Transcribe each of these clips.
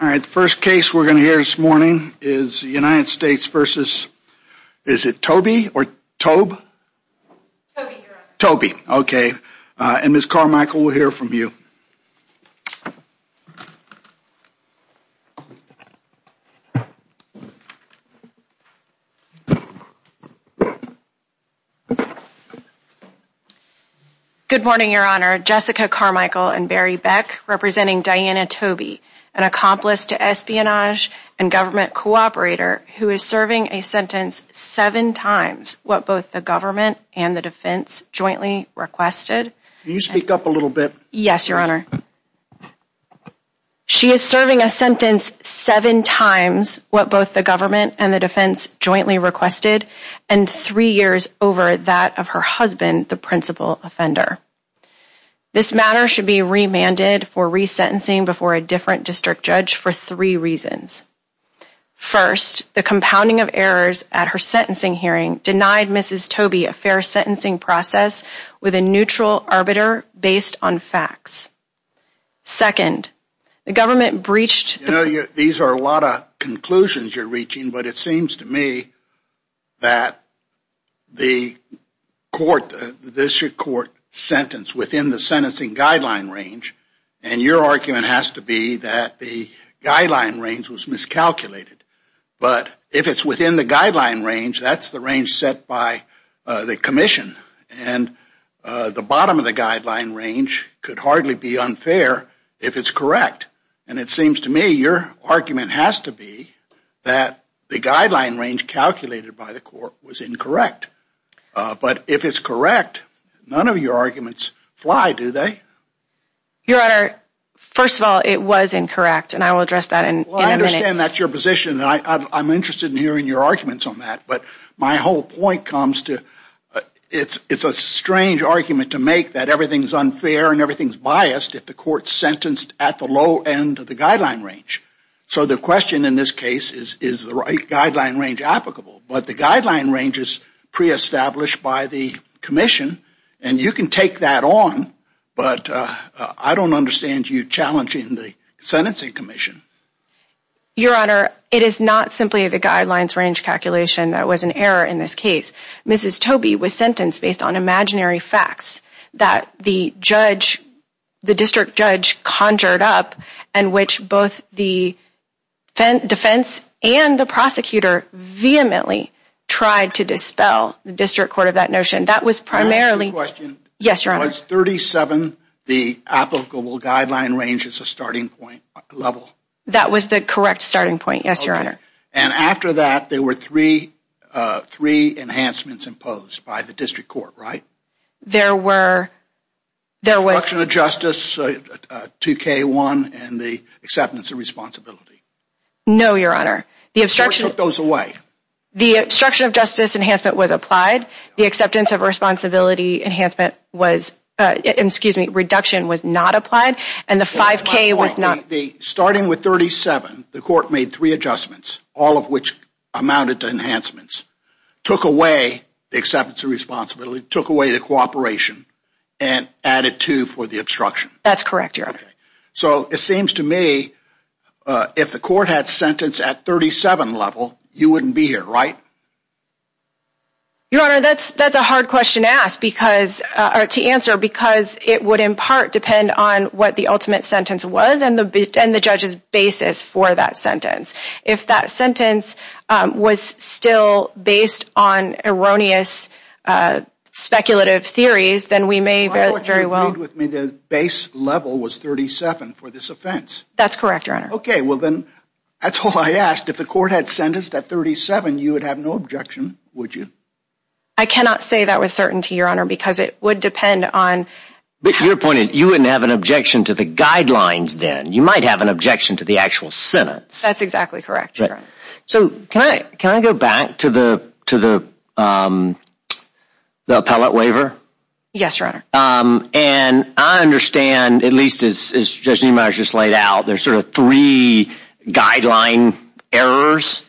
All right, the first case we're going to hear this morning is the United States versus, is it Toby or Toebbe? Toebbe, Your Honor. Toebbe, okay. And Ms. Carmichael, we'll hear from you. Good morning, Your Honor. Jessica Carmichael and Barry Beck representing Diana Toebbe, an accomplice to espionage and government cooperator who is serving a sentence seven times what both the government and the defense jointly requested. Can you speak up a little bit? Yes, Your Honor. She is serving a sentence seven times what both the government and the defense jointly requested and three years over that of her husband, the principal offender. This matter should be remanded for resentencing before a different district judge for three reasons. First, the compounding of errors at her sentencing hearing denied Mrs. Toebbe a fair sentencing process with a neutral arbiter based on facts. Second, the government breached... You know, these are a lot of conclusions you're reaching, but it seems to me that the court, the district court sentence within the sentencing guideline range, and your argument has to be that the guideline range was miscalculated. But if it's within the guideline range, that's the range set by the commission, and the bottom of the guideline range could hardly be unfair if it's correct. And it seems to me your argument has to be that the guideline range calculated by the court was incorrect. But if it's correct, none of your arguments fly, do they? Your Honor, first of all, it was incorrect, and I will address that in a minute. I understand that's your position, and I'm interested in hearing your arguments on that. But my whole point comes to, it's a strange argument to make that everything's unfair and everything's biased if the court's sentenced at the low end of the guideline range. So the question in this case is, is the right guideline range applicable? But the guideline range is pre-established by the commission, and you can take that on. But I don't understand you challenging the sentencing commission. Your Honor, it is not simply the guidelines range calculation that was an error in this case. Mrs. Tobey was sentenced based on imaginary facts that the district judge conjured up, and which both the defense and the prosecutor vehemently tried to dispel the district court of that notion. Was 37 the applicable guideline range as a starting point level? That was the correct starting point, yes, Your Honor. And after that, there were three enhancements imposed by the district court, right? There were... The obstruction of justice, 2K1, and the acceptance of responsibility. No, Your Honor. The court took those away. The obstruction of justice enhancement was applied. The acceptance of responsibility enhancement was... Excuse me, reduction was not applied, and the 5K was not... Starting with 37, the court made three adjustments, all of which amounted to enhancements. Took away the acceptance of responsibility, took away the cooperation, and added two for the obstruction. That's correct, Your Honor. So it seems to me if the court had sentenced at 37 level, you wouldn't be here, right? Your Honor, that's a hard question to answer because it would in part depend on what the ultimate sentence was and the judge's basis for that sentence. If that sentence was still based on erroneous speculative theories, then we may very well... Read with me the base level was 37 for this offense. That's correct, Your Honor. Okay, well then, that's all I asked. If the court had sentenced at 37, you would have no objection, would you? I cannot say that with certainty, Your Honor, because it would depend on... But your point is you wouldn't have an objection to the guidelines then. You might have an objection to the actual sentence. That's exactly correct, Your Honor. So can I go back to the appellate waiver? Yes, Your Honor. And I understand, at least as Judge Nemar has just laid out, there's sort of three guideline errors.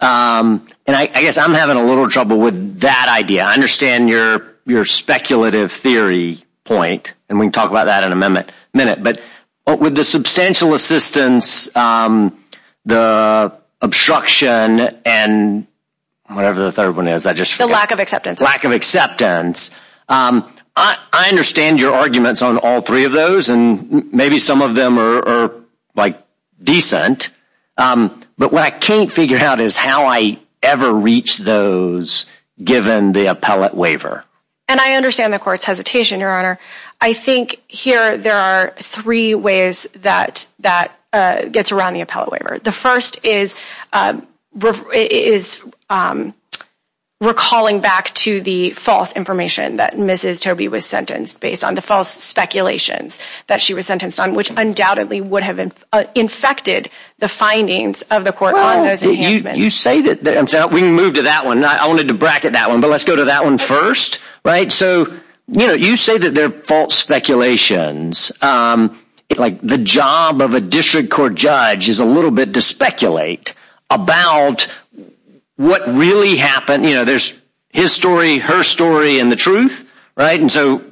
And I guess I'm having a little trouble with that idea. I understand your speculative theory point, and we can talk about that in a minute. But with the substantial assistance, the obstruction, and whatever the third one is, I just forgot. The lack of acceptance. Lack of acceptance. I understand your arguments on all three of those, and maybe some of them are, like, decent. But what I can't figure out is how I ever reach those given the appellate waiver. And I understand the court's hesitation, Your Honor. I think here there are three ways that gets around the appellate waiver. The first is recalling back to the false information that Mrs. Tobey was sentenced based on the false speculations that she was sentenced on, which undoubtedly would have infected the findings of the court on those enhancements. You say that. We can move to that one. I wanted to bracket that one, but let's go to that one first. So you say that they're false speculations. Like, the job of a district court judge is a little bit to speculate about what really happened. You know, there's his story, her story, and the truth, right? And so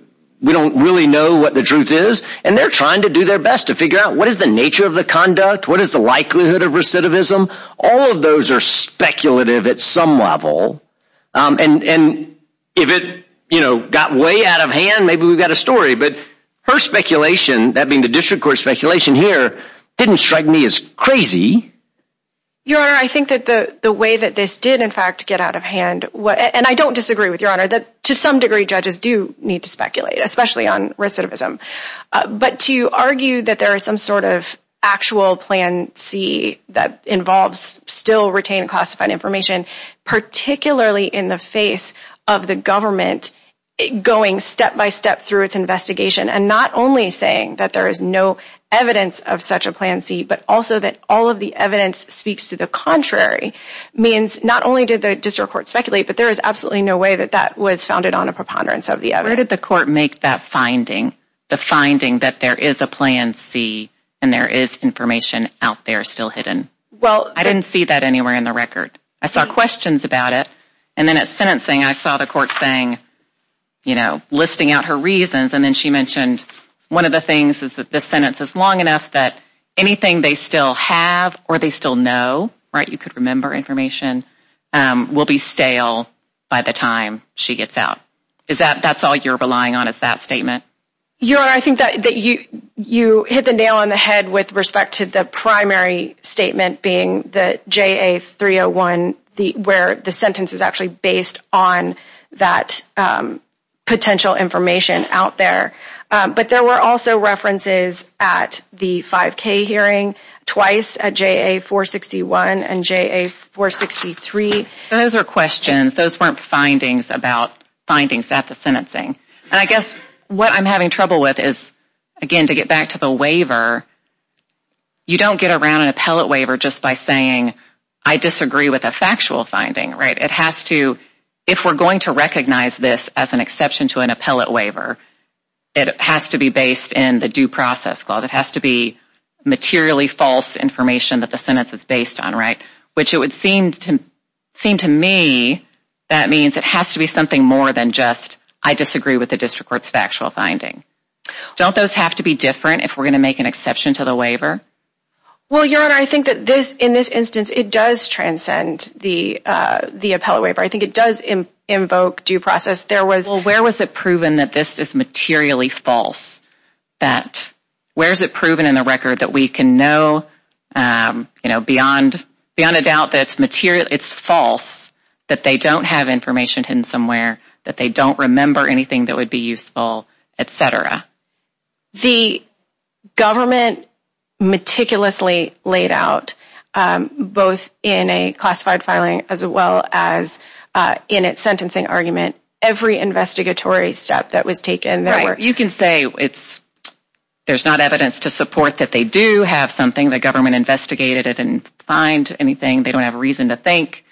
we don't really know what the truth is. And they're trying to do their best to figure out what is the nature of the conduct, what is the likelihood of recidivism. All of those are speculative at some level. And if it, you know, got way out of hand, maybe we've got a story. But her speculation, that being the district court speculation here, didn't strike me as crazy. Your Honor, I think that the way that this did, in fact, get out of hand, and I don't disagree with Your Honor, that to some degree judges do need to speculate, especially on recidivism. But to argue that there is some sort of actual Plan C that involves still retained classified information, particularly in the face of the government going step-by-step through its investigation, and not only saying that there is no evidence of such a Plan C, but also that all of the evidence speaks to the contrary, means not only did the district court speculate, but there is absolutely no way that that was founded on a preponderance of the evidence. Where did the court make that finding? The finding that there is a Plan C, and there is information out there still hidden? I didn't see that anywhere in the record. I saw questions about it, and then at sentencing I saw the court saying, you know, listing out her reasons, and then she mentioned one of the things is that this sentence is long enough that anything they still have or they still know, right, you could remember information, will be stale by the time she gets out. That's all you're relying on is that statement? Your Honor, I think that you hit the nail on the head with respect to the primary statement being the JA-301, where the sentence is actually based on that potential information out there. But there were also references at the 5K hearing, twice at JA-461 and JA-463. Those are questions. Those weren't findings about findings at the sentencing. And I guess what I'm having trouble with is, again, to get back to the waiver, you don't get around an appellate waiver just by saying, I disagree with a factual finding, right? It has to, if we're going to recognize this as an exception to an appellate waiver, it has to be based in the Due Process Clause. It has to be materially false information that the sentence is based on, right? Which it would seem to me that means it has to be something more than just, I disagree with the District Court's factual finding. Don't those have to be different if we're going to make an exception to the waiver? Well, Your Honor, I think that in this instance it does transcend the appellate waiver. I think it does invoke due process. Well, where was it proven that this is materially false? Where is it proven in the record that we can know beyond a doubt that it's false, that they don't have information hidden somewhere, that they don't remember anything that would be useful, et cetera? The government meticulously laid out, both in a classified filing as well as in its sentencing argument, every investigatory step that was taken. You can say there's not evidence to support that they do have something. The government investigated it and didn't find anything. They don't have a reason to think.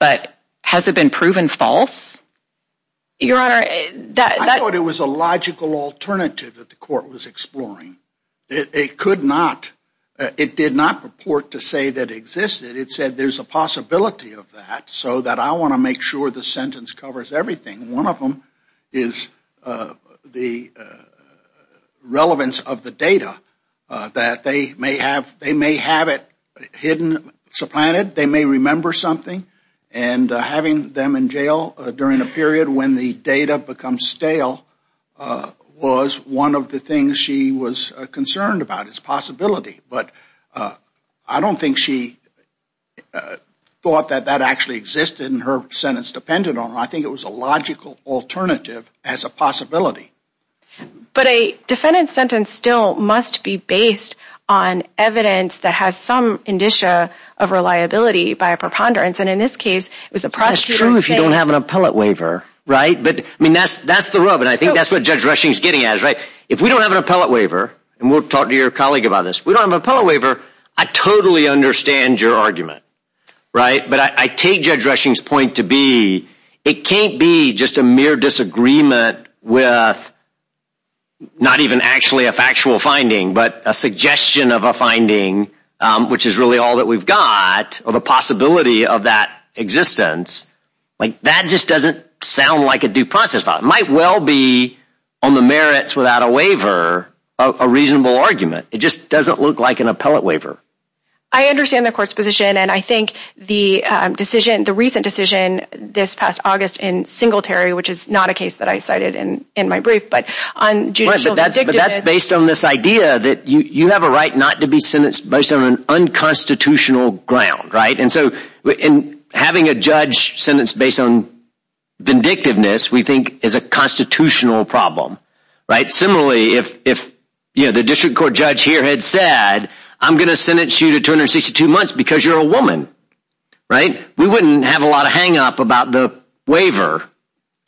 But has it been proven false? I thought it was a logical alternative that the court was exploring. It could not. It did not purport to say that it existed. It said there's a possibility of that so that I want to make sure the sentence covers everything. One of them is the relevance of the data, that they may have it hidden, supplanted. They may remember something. And having them in jail during a period when the data becomes stale was one of the things she was concerned about. It's a possibility. But I don't think she thought that that actually existed and her sentence depended on it. I think it was a logical alternative as a possibility. But a defendant's sentence still must be based on evidence that has some indicia of reliability by a preponderance. And in this case, it was a prosecutor saying- That's true if you don't have an appellate waiver, right? I mean, that's the rub, and I think that's what Judge Rushing is getting at. If we don't have an appellate waiver, and we'll talk to your colleague about this, if we don't have an appellate waiver, I totally understand your argument. But I take Judge Rushing's point to be, it can't be just a mere disagreement with not even actually a factual finding, but a suggestion of a finding, which is really all that we've got, or the possibility of that existence. That just doesn't sound like a due process. It might well be, on the merits without a waiver, a reasonable argument. It just doesn't look like an appellate waiver. I understand the court's position, and I think the recent decision this past August in Singletary, which is not a case that I cited in my brief, but on judicial vindictiveness- But that's based on this idea that you have a right not to be sentenced based on an unconstitutional ground, right? And so having a judge sentenced based on vindictiveness, we think, is a constitutional problem, right? Similarly, if the district court judge here had said, I'm going to sentence you to 262 months because you're a woman, right? We wouldn't have a lot of hang-up about the waiver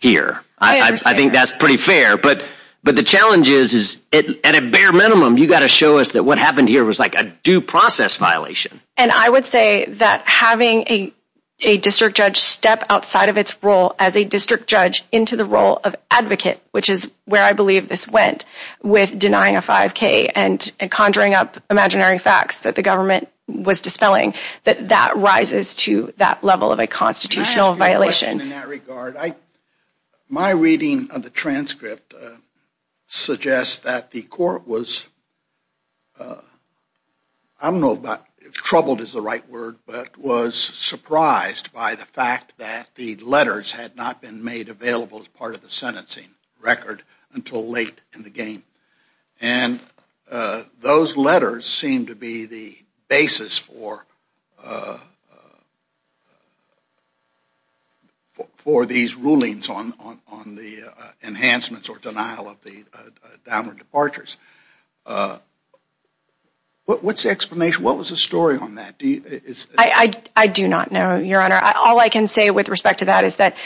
here. I understand. I think that's pretty fair, but the challenge is, at a bare minimum, you've got to show us that what happened here was like a due process violation. And I would say that having a district judge step outside of its role as a district judge into the role of advocate, which is where I believe this went, with denying a 5K and conjuring up imaginary facts that the government was dispelling, that that rises to that level of a constitutional violation. Can I ask you a question in that regard? My reading of the transcript suggests that the court was, I don't know about- but was surprised by the fact that the letters had not been made available as part of the sentencing record until late in the game. And those letters seem to be the basis for these rulings on the enhancements or denial of the downward departures. What's the explanation? What was the story on that? I do not know, Your Honor. All I can say with respect to that is that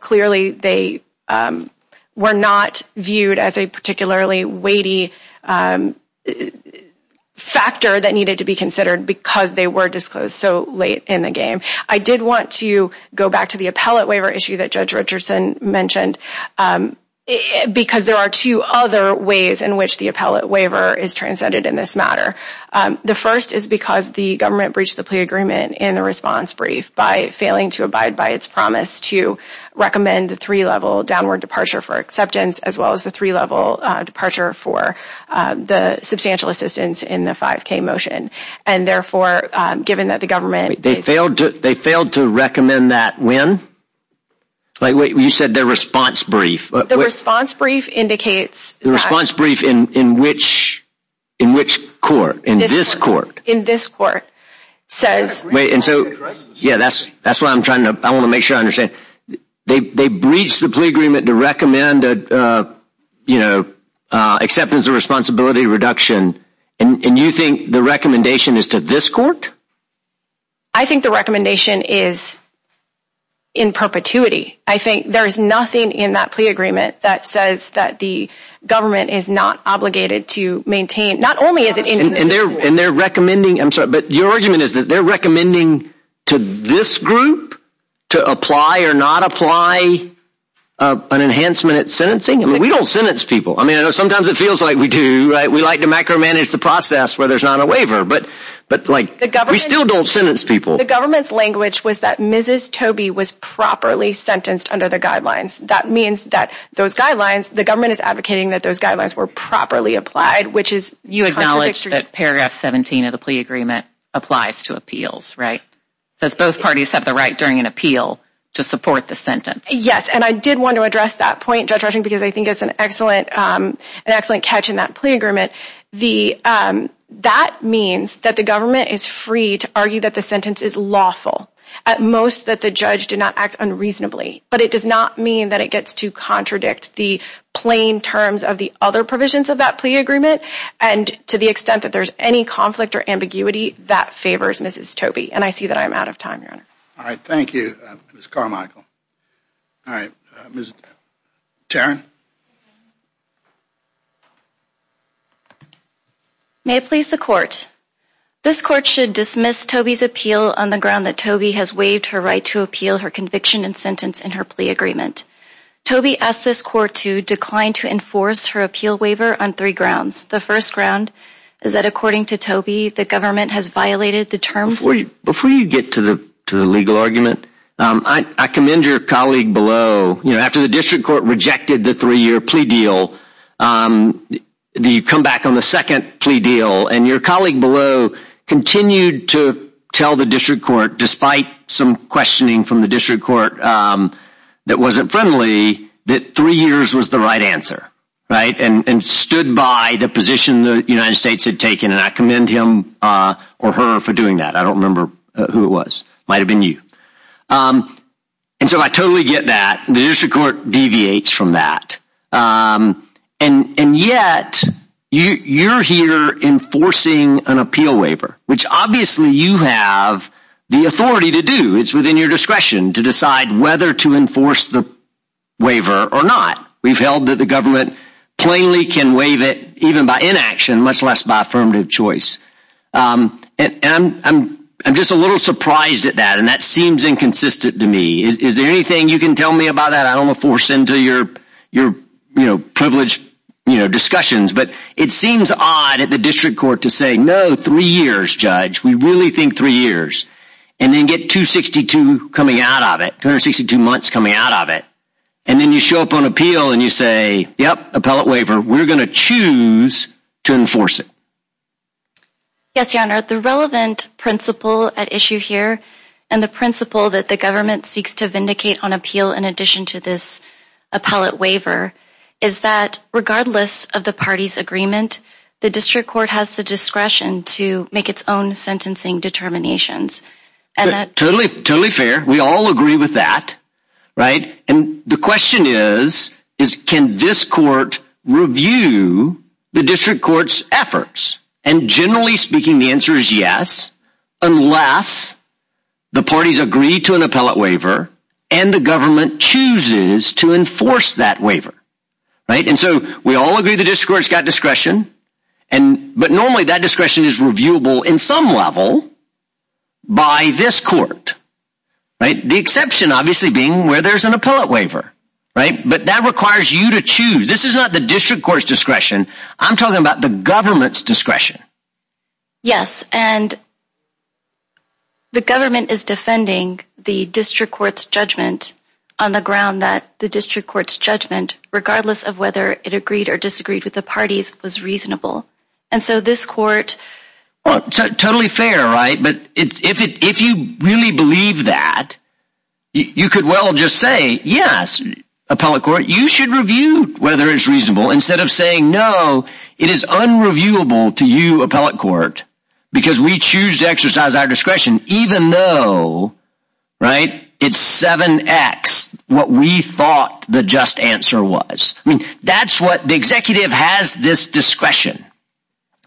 clearly they were not viewed as a particularly weighty factor that needed to be considered because they were disclosed so late in the game. I did want to go back to the appellate waiver issue that Judge Richardson mentioned because there are two other ways in which the appellate waiver is transcended in this matter. The first is because the government breached the plea agreement in the response brief by failing to abide by its promise to recommend the three-level downward departure for acceptance as well as the three-level departure for the substantial assistance in the 5K motion. And therefore, given that the government- They failed to recommend that when? Wait, you said the response brief. The response brief indicates that- The response brief in which court? In this court? In this court says- Wait, and so- Yeah, that's why I'm trying to- I want to make sure I understand. They breached the plea agreement to recommend acceptance of responsibility reduction, and you think the recommendation is to this court? I think the recommendation is in perpetuity. I think there is nothing in that plea agreement that says that the government is not obligated to maintain- Not only is it- And they're recommending- I'm sorry, but your argument is that they're recommending to this group to apply or not apply an enhancement at sentencing? I mean, we don't sentence people. I mean, I know sometimes it feels like we do, right? We like to macro-manage the process where there's not a waiver, but like- We still don't sentence people. The government's language was that Mrs. Tobey was properly sentenced under the guidelines. That means that those guidelines, the government is advocating that those guidelines were properly applied, which is- You acknowledge that paragraph 17 of the plea agreement applies to appeals, right? Does both parties have the right during an appeal to support the sentence? Yes, and I did want to address that point, Judge Rushing, because I think it's an excellent catch in that plea agreement. That means that the government is free to argue that the sentence is lawful, at most that the judge did not act unreasonably, but it does not mean that it gets to contradict the plain terms of the other provisions of that plea agreement, and to the extent that there's any conflict or ambiguity, that favors Mrs. Tobey, and I see that I am out of time, Your Honor. All right, thank you, Ms. Carmichael. All right, Ms. Tarrin? May it please the court. This court should dismiss Tobey's appeal on the ground that Tobey has waived her right to appeal her conviction and sentence in her plea agreement. Tobey asked this court to decline to enforce her appeal waiver on three grounds. The first ground is that, according to Tobey, the government has violated the terms- Before you get to the legal argument, I commend your colleague below. After the district court rejected the three-year plea deal, you come back on the second plea deal, and your colleague below continued to tell the district court, despite some questioning from the district court that wasn't friendly, that three years was the right answer and stood by the position the United States had taken, and I commend him or her for doing that. I don't remember who it was. It might have been you. And so I totally get that. The district court deviates from that. And yet, you're here enforcing an appeal waiver, which obviously you have the authority to do. It's within your discretion to decide whether to enforce the waiver or not. We've held that the government plainly can waive it, even by inaction, much less by affirmative choice. And I'm just a little surprised at that, and that seems inconsistent to me. Is there anything you can tell me about that? I don't want to force into your privileged discussions. But it seems odd at the district court to say, no, three years, judge. We really think three years. And then get 262 coming out of it, 262 months coming out of it. And then you show up on appeal and you say, yep, appellate waiver. We're going to choose to enforce it. Yes, your honor. The relevant principle at issue here and the principle that the government seeks to vindicate on appeal in addition to this appellate waiver is that regardless of the party's agreement, the district court has the discretion to make its own sentencing determinations. Totally, totally fair. We all agree with that. And the question is, can this court review the district court's efforts? And generally speaking, the answer is yes, unless the parties agree to an appellate waiver and the government chooses to enforce that waiver. And so we all agree the district court's got discretion, but normally that discretion is reviewable in some level by this court. The exception obviously being where there's an appellate waiver. But that requires you to choose. This is not the district court's discretion. I'm talking about the government's discretion. Yes, and the government is defending the district court's judgment on the ground that the district court's judgment, regardless of whether it agreed or disagreed with the parties, was reasonable. And so this court… Totally fair, right? But if you really believe that, you could well just say, yes, appellate court, you should review whether it's reasonable instead of saying, no, it is unreviewable to you, appellate court, because we choose to exercise our discretion even though, right, it's 7X what we thought the just answer was. The executive has this discretion,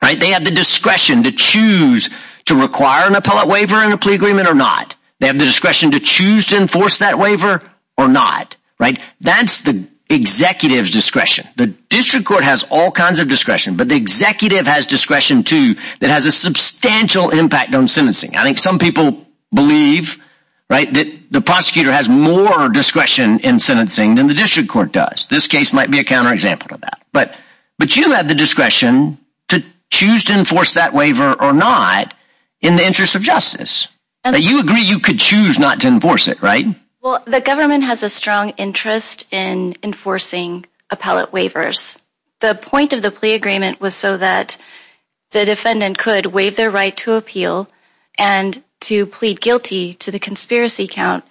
right? They have the discretion to choose to require an appellate waiver and a plea agreement or not. They have the discretion to choose to enforce that waiver or not, right? That's the executive's discretion. The district court has all kinds of discretion, but the executive has discretion, too, that has a substantial impact on sentencing. I think some people believe, right, that the prosecutor has more discretion in sentencing than the district court does. This case might be a counterexample to that. But you have the discretion to choose to enforce that waiver or not in the interest of justice. You agree you could choose not to enforce it, right? Well, the government has a strong interest in enforcing appellate waivers. The point of the plea agreement was so that the defendant could waive their right to appeal and to plead guilty to the conspiracy count.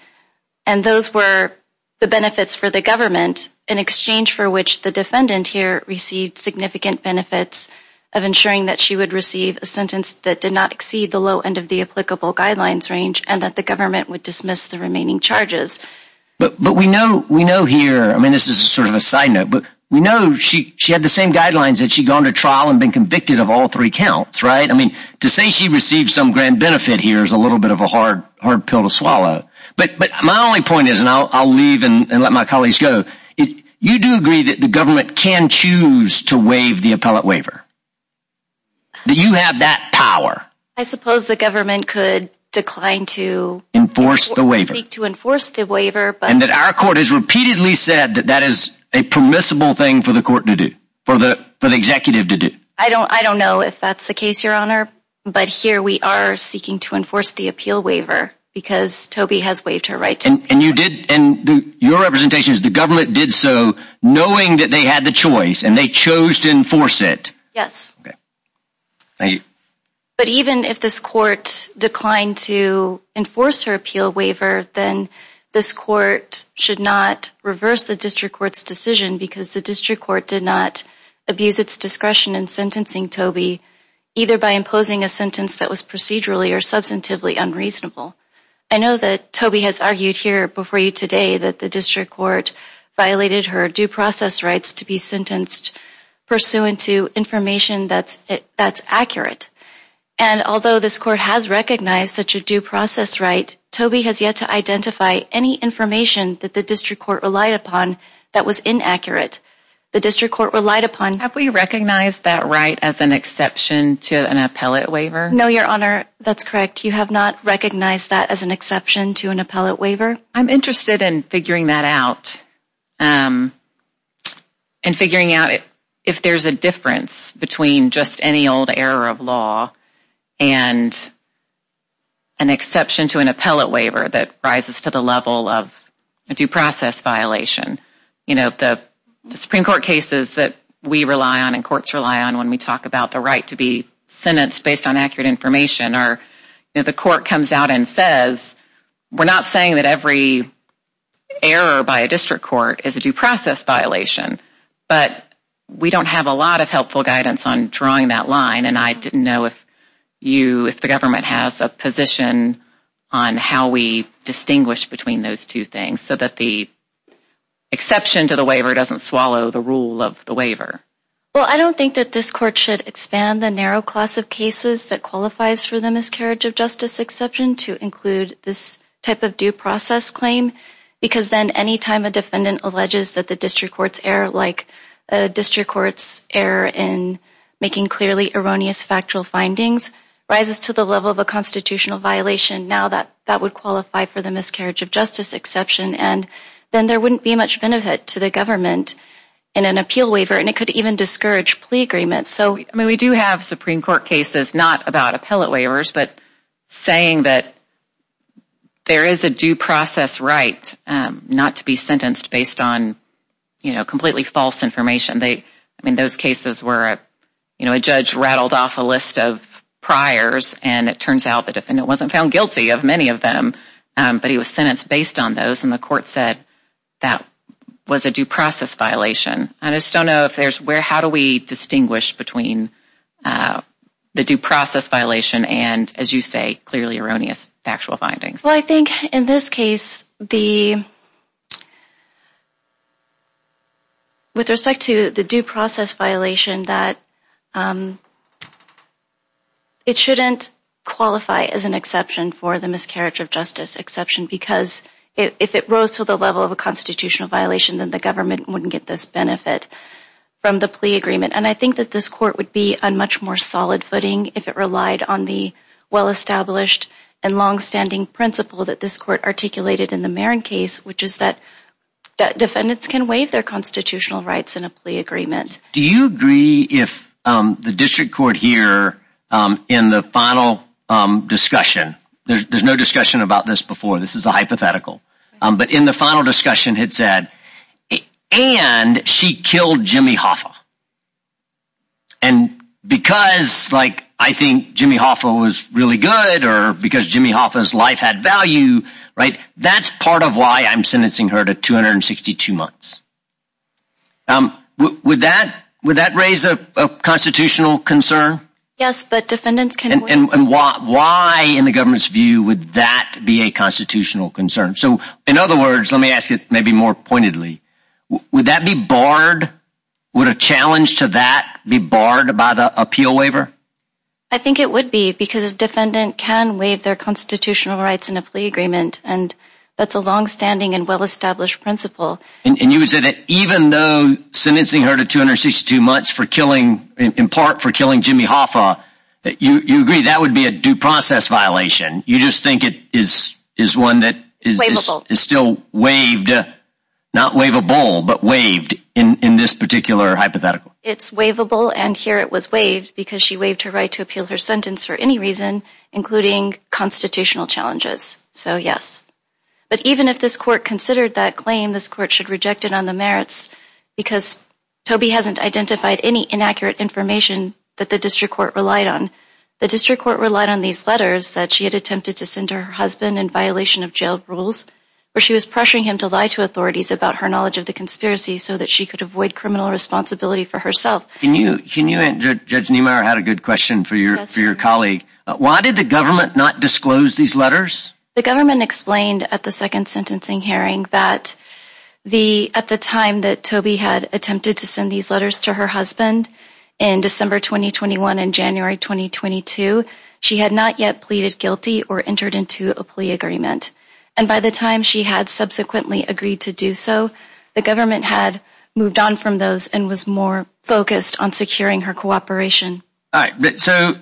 And those were the benefits for the government in exchange for which the defendant here received significant benefits of ensuring that she would receive a sentence that did not exceed the low end of the applicable guidelines range and that the government would dismiss the remaining charges. But we know here, I mean, this is sort of a side note, but we know she had the same guidelines that she'd gone to trial and been convicted of all three counts, right? I mean, to say she received some grand benefit here is a little bit of a hard pill to swallow. But my only point is, and I'll leave and let my colleagues go, you do agree that the government can choose to waive the appellate waiver? Do you have that power? I suppose the government could decline to enforce the waiver. Seek to enforce the waiver. And that our court has repeatedly said that that is a permissible thing for the court to do, for the executive to do. I don't know if that's the case, Your Honor, but here we are seeking to enforce the appeal waiver because Toby has waived her right to appeal. And your representation is the government did so knowing that they had the choice and they chose to enforce it. Yes. Thank you. But even if this court declined to enforce her appeal waiver, then this court should not reverse the district court's decision because the district court did not abuse its discretion in sentencing Toby, either by imposing a sentence that was procedurally or substantively unreasonable. I know that Toby has argued here before you today that the district court violated her due process rights to be sentenced pursuant to information that's accurate. And although this court has recognized such a due process right, Toby has yet to identify any information that the district court relied upon that was inaccurate. The district court relied upon... Have we recognized that right as an exception to an appellate waiver? No, Your Honor, that's correct. You have not recognized that as an exception to an appellate waiver? I'm interested in figuring that out and figuring out if there's a difference between just any old error of law and an exception to an appellate waiver that rises to the level of a due process violation. The Supreme Court cases that we rely on and courts rely on when we talk about the right to be sentenced based on accurate information, the court comes out and says, we're not saying that every error by a district court is a due process violation, but we don't have a lot of helpful guidance on drawing that line. And I didn't know if the government has a position on how we distinguish between those two things so that the exception to the waiver doesn't swallow the rule of the waiver. Well, I don't think that this court should expand the narrow class of cases that qualifies for the miscarriage of justice exception to include this type of due process claim, because then anytime a defendant alleges that the district court's error, like a district court's error in making clearly erroneous factual findings, rises to the level of a constitutional violation, now that that would qualify for the miscarriage of justice exception. And then there wouldn't be much benefit to the government in an appeal waiver, and it could even discourage plea agreements. I mean, we do have Supreme Court cases not about appellate waivers, but saying that there is a due process right not to be sentenced based on completely false information. I mean, those cases where a judge rattled off a list of priors, and it turns out the defendant wasn't found guilty of many of them, but he was sentenced based on those, and the court said that was a due process violation. I just don't know if there's where, how do we distinguish between the due process violation and, as you say, clearly erroneous factual findings. Well, I think in this case, with respect to the due process violation, that it shouldn't qualify as an exception for the miscarriage of justice exception, because if it rose to the level of a constitutional violation, then the government wouldn't get this benefit from the plea agreement. And I think that this court would be on much more solid footing if it relied on the well-established and long-standing principle that this court articulated in the Marin case, which is that defendants can waive their constitutional rights in a plea agreement. Do you agree if the district court here in the final discussion, there's no discussion about this before, this is a hypothetical, but in the final discussion it said, and she killed Jimmy Hoffa, and because I think Jimmy Hoffa was really good or because Jimmy Hoffa's life had value, that's part of why I'm sentencing her to 262 months. Would that raise a constitutional concern? Yes, but defendants can waive. And why in the government's view would that be a constitutional concern? So, in other words, let me ask it maybe more pointedly, would that be barred, would a challenge to that be barred by the appeal waiver? I think it would be, because a defendant can waive their constitutional rights in a plea agreement, and that's a long-standing and well-established principle. And you would say that even though sentencing her to 262 months for killing, in part for killing Jimmy Hoffa, you agree that would be a due process violation, you just think it is one that is still waived, not waivable, but waived in this particular hypothetical. It's waivable, and here it was waived because she waived her right to appeal her sentence for any reason, including constitutional challenges, so yes. But even if this court considered that claim, this court should reject it on the merits, because Toby hasn't identified any inaccurate information that the district court relied on. The district court relied on these letters that she had attempted to send to her husband in violation of jail rules, where she was pressuring him to lie to authorities about her knowledge of the conspiracy so that she could avoid criminal responsibility for herself. Can you, Judge Niemeyer had a good question for your colleague. Why did the government not disclose these letters? The government explained at the second sentencing hearing that at the time that Toby had attempted to send these letters to her husband in December 2021 and January 2022, she had not yet pleaded guilty or entered into a plea agreement. And by the time she had subsequently agreed to do so, the government had moved on from those and was more focused on securing her cooperation. All right, so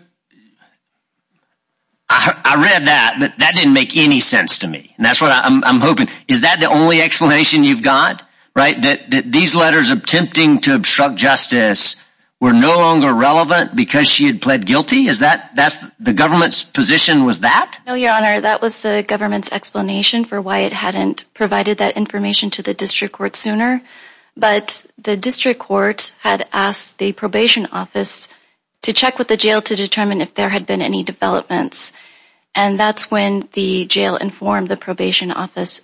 I read that, but that didn't make any sense to me. And that's what I'm hoping. Is that the only explanation you've got, right, that these letters attempting to obstruct justice were no longer relevant because she had pled guilty? Is that that's the government's position? Your Honor, that was the government's explanation for why it hadn't provided that information to the district court sooner. But the district court had asked the probation office to check with the jail to determine if there had been any developments. And that's when the jail informed the probation office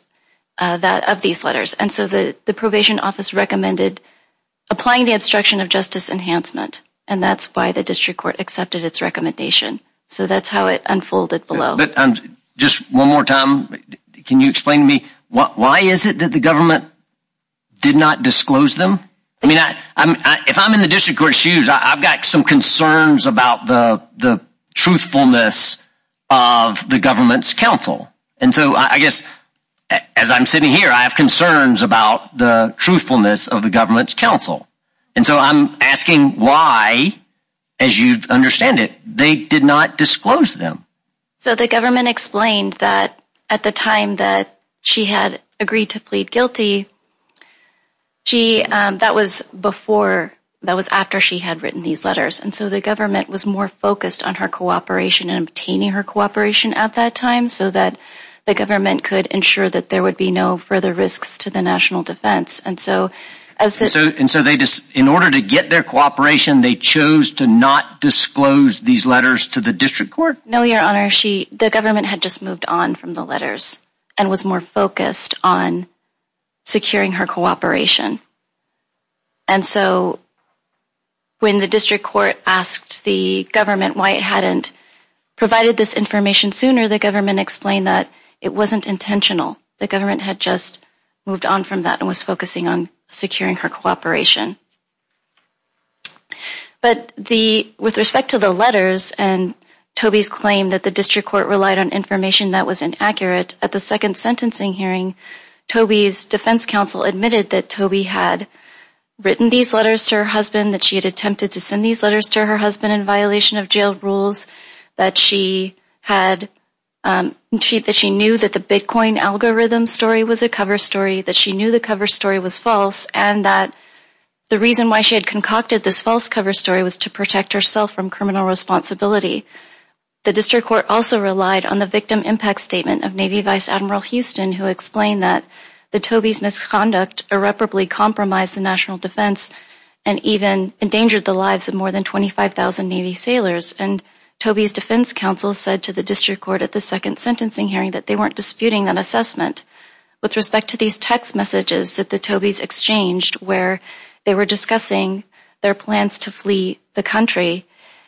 that of these letters. And so the probation office recommended applying the obstruction of justice enhancement. And that's why the district court accepted its recommendation. So that's how it unfolded below. Just one more time. Can you explain to me why is it that the government did not disclose them? I mean, if I'm in the district court shoes, I've got some concerns about the truthfulness of the government's counsel. And so I guess as I'm sitting here, I have concerns about the truthfulness of the government's counsel. And so I'm asking why, as you understand it, they did not disclose them. So the government explained that at the time that she had agreed to plead guilty, she that was before that was after she had written these letters. And so the government was more focused on her cooperation and obtaining her cooperation at that time so that the government could ensure that there would be no further risks to the national defense. And so in order to get their cooperation, they chose to not disclose these letters to the district court? No, Your Honor. The government had just moved on from the letters and was more focused on securing her cooperation. And so when the district court asked the government why it hadn't provided this information sooner, the government explained that it wasn't intentional. The government had just moved on from that and was focusing on securing her cooperation. But the with respect to the letters and Toby's claim that the district court relied on information that was inaccurate at the second sentencing hearing, Toby's defense counsel admitted that Toby had written these letters to her husband, that she had attempted to send these letters to her husband in violation of jail rules, that she knew that the Bitcoin algorithm story was a cover story, that she knew the cover story was false, and that the reason why she had concocted this false cover story was to protect herself from criminal responsibility. The district court also relied on the victim impact statement of Navy Vice Admiral Houston, who explained that the Toby's misconduct irreparably compromised the national defense and even endangered the lives of more than 25,000 Navy sailors. And Toby's defense counsel said to the district court at the second sentencing hearing that they weren't disputing that assessment. With respect to these text messages that the Toby's exchanged where they were discussing their plans to flee the country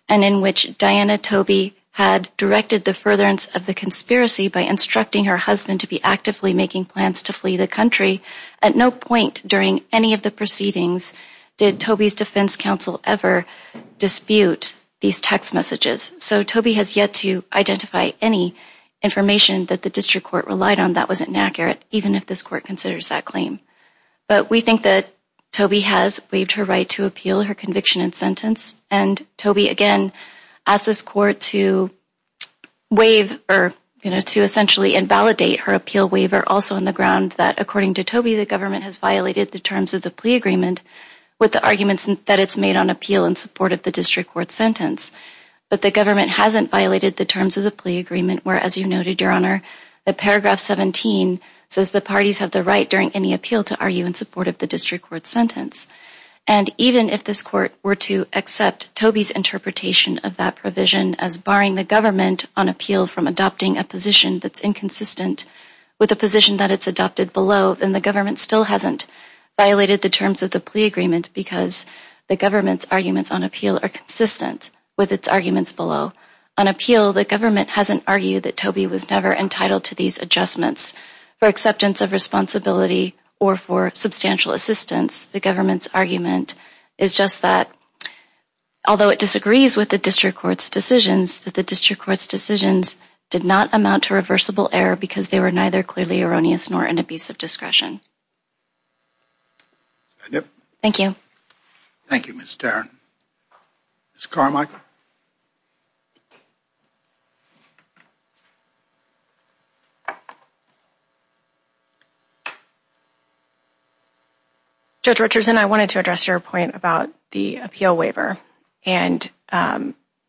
and in which Diana Toby had directed the furtherance of the conspiracy by instructing her husband to be actively making plans to flee the country, at no point during any of the proceedings did Toby's defense counsel ever dispute these text messages. So Toby has yet to identify any information that the district court relied on that was inaccurate, even if this court considers that claim. But we think that Toby has waived her right to appeal her conviction and sentence, and Toby again asked this court to essentially invalidate her appeal waiver, also on the ground that according to Toby, the government has violated the terms of the plea agreement with the arguments that it's made on appeal in support of the district court sentence. But the government hasn't violated the terms of the plea agreement, where as you noted, Your Honor, the paragraph 17 says the parties have the right during any appeal to argue in support of the district court sentence. And even if this court were to accept Toby's interpretation of that provision as barring the government on appeal from adopting a position that's inconsistent with the position that it's adopted below, then the government still hasn't violated the terms of the plea agreement because the government's arguments on appeal are consistent with its arguments below. On appeal, the government hasn't argued that Toby was never entitled to these adjustments. For acceptance of responsibility or for substantial assistance, the government's argument is just that, although it disagrees with the district court's decisions, that the district court's decisions did not amount to reversible error because they were neither clearly erroneous nor an abuse of discretion. Thank you. Thank you, Ms. Tarrant. Ms. Carmichael. Judge Richardson, I wanted to address your point about the appeal waiver and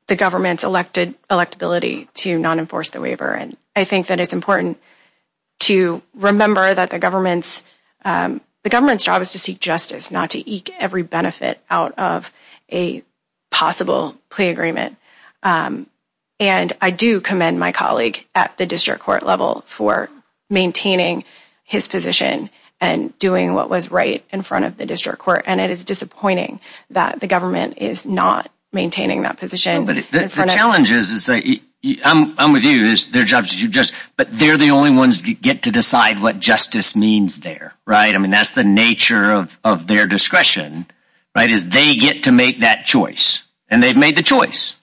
the government's electability to non-enforce the waiver. And I think that it's important to remember that the government's job is to seek justice, not to eke every benefit out of a possible plea agreement. And I do commend my colleague at the district court level for maintaining his position and doing what was right in front of the district court. And it is disappointing that the government is not maintaining that position. The challenge is, I'm with you, but they're the only ones that get to decide what justice means there, right? I mean, that's the nature of their discretion, right, is they get to make that choice. And they've made the choice.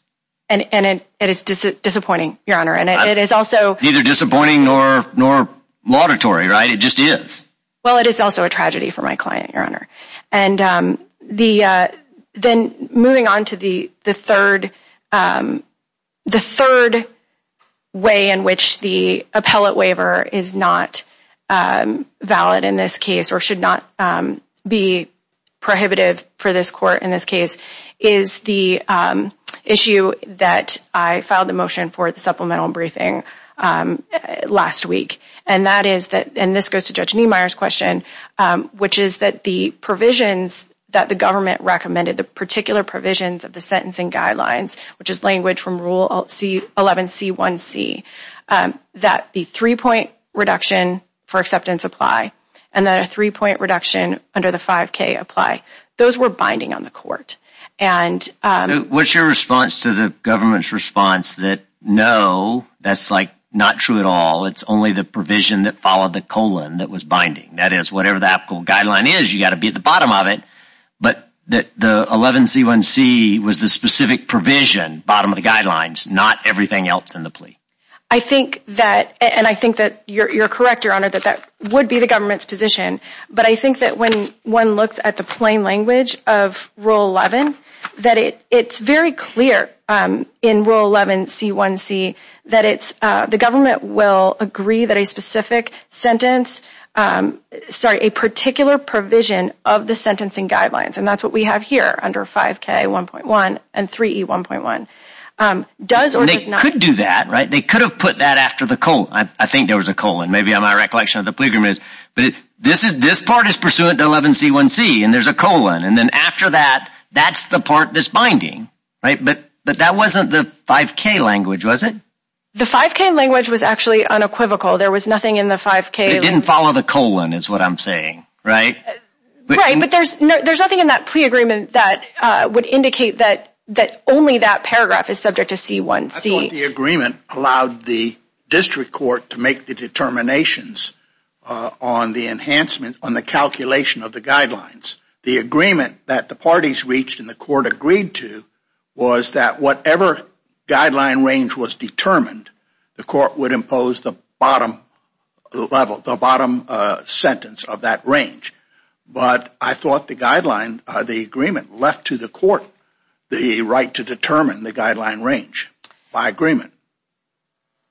And it is disappointing, Your Honor. Neither disappointing nor laudatory, right? It just is. Well, it is also a tragedy for my client, Your Honor. And then moving on to the third way in which the appellate waiver is not valid in this case or should not be prohibitive for this court in this case is the issue that I filed a motion for at the supplemental briefing last week. And this goes to Judge Niemeyer's question, which is that the provisions that the government recommended, the particular provisions of the sentencing guidelines, which is language from Rule 11C1C, that the three-point reduction for acceptance apply and the three-point reduction under the 5K apply. Those were binding on the court. What's your response to the government's response that, no, that's not true at all? It's only the provision that followed the colon that was binding. That is, whatever the applicable guideline is, you've got to be at the bottom of it. But the 11C1C was the specific provision, bottom of the guidelines, not everything else in the plea. I think that, and I think that you're correct, Your Honor, that that would be the government's position. But I think that when one looks at the plain language of Rule 11, that it's very clear in Rule 11C1C that the government will agree that a specific sentence, sorry, a particular provision of the sentencing guidelines, and that's what we have here under 5K1.1 and 3E1.1, does or does not apply. They could have put that after the colon. I think there was a colon. Maybe my recollection of the plea agreement is this part is pursuant to 11C1C, and there's a colon. And then after that, that's the part that's binding. But that wasn't the 5K language, was it? The 5K language was actually unequivocal. There was nothing in the 5K. It didn't follow the colon is what I'm saying, right? Right, but there's nothing in that plea agreement that would indicate that only that paragraph is subject to C1C. I thought the agreement allowed the district court to make the determinations on the enhancement, on the calculation of the guidelines. The agreement that the parties reached and the court agreed to was that whatever guideline range was determined, the court would impose the bottom level, the bottom sentence of that range. But I thought the guideline, the agreement left to the court the right to determine the guideline range by agreement.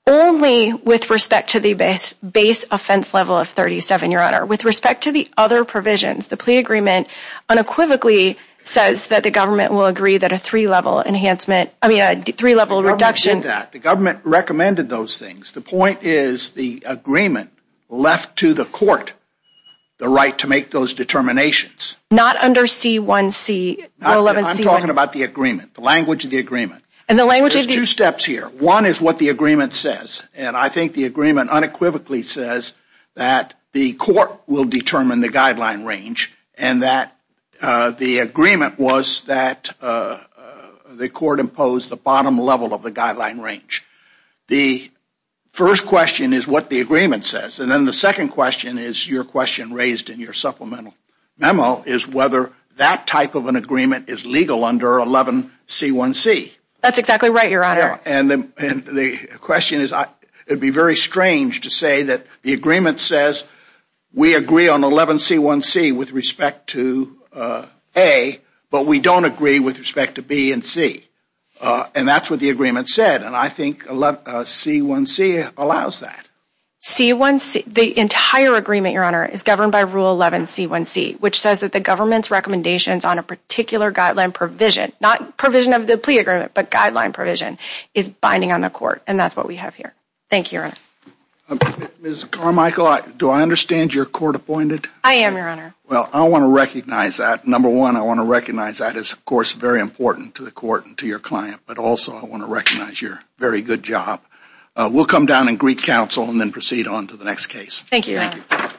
Only with respect to the base offense level of 37, Your Honor. With respect to the other provisions, the plea agreement unequivocally says that the government will agree that a three-level enhancement, I mean a three-level reduction. The government did that. The government recommended those things. The point is the agreement left to the court the right to make those determinations. Not under C1C. I'm talking about the agreement, the language of the agreement. There's two steps here. One is what the agreement says, and I think the agreement unequivocally says that the court will determine the guideline range and that the agreement was that the court imposed the bottom level of the guideline range. The first question is what the agreement says. And then the second question is your question raised in your supplemental memo is whether that type of an agreement is legal under 11C1C. That's exactly right, Your Honor. And the question is it would be very strange to say that the agreement says we agree on 11C1C with respect to A, but we don't agree with respect to B and C. And that's what the agreement said, and I think C1C allows that. C1C, the entire agreement, Your Honor, is governed by Rule 11C1C, which says that the government's recommendations on a particular guideline provision, not provision of the plea agreement, but guideline provision, is binding on the court. And that's what we have here. Thank you, Your Honor. Ms. Carmichael, do I understand you're court appointed? I am, Your Honor. Well, I want to recognize that. Number one, I want to recognize that is, of course, very important to the court and to your client, but also I want to recognize your very good job. We'll come down and greet counsel and then proceed on to the next case. Thank you, Your Honor.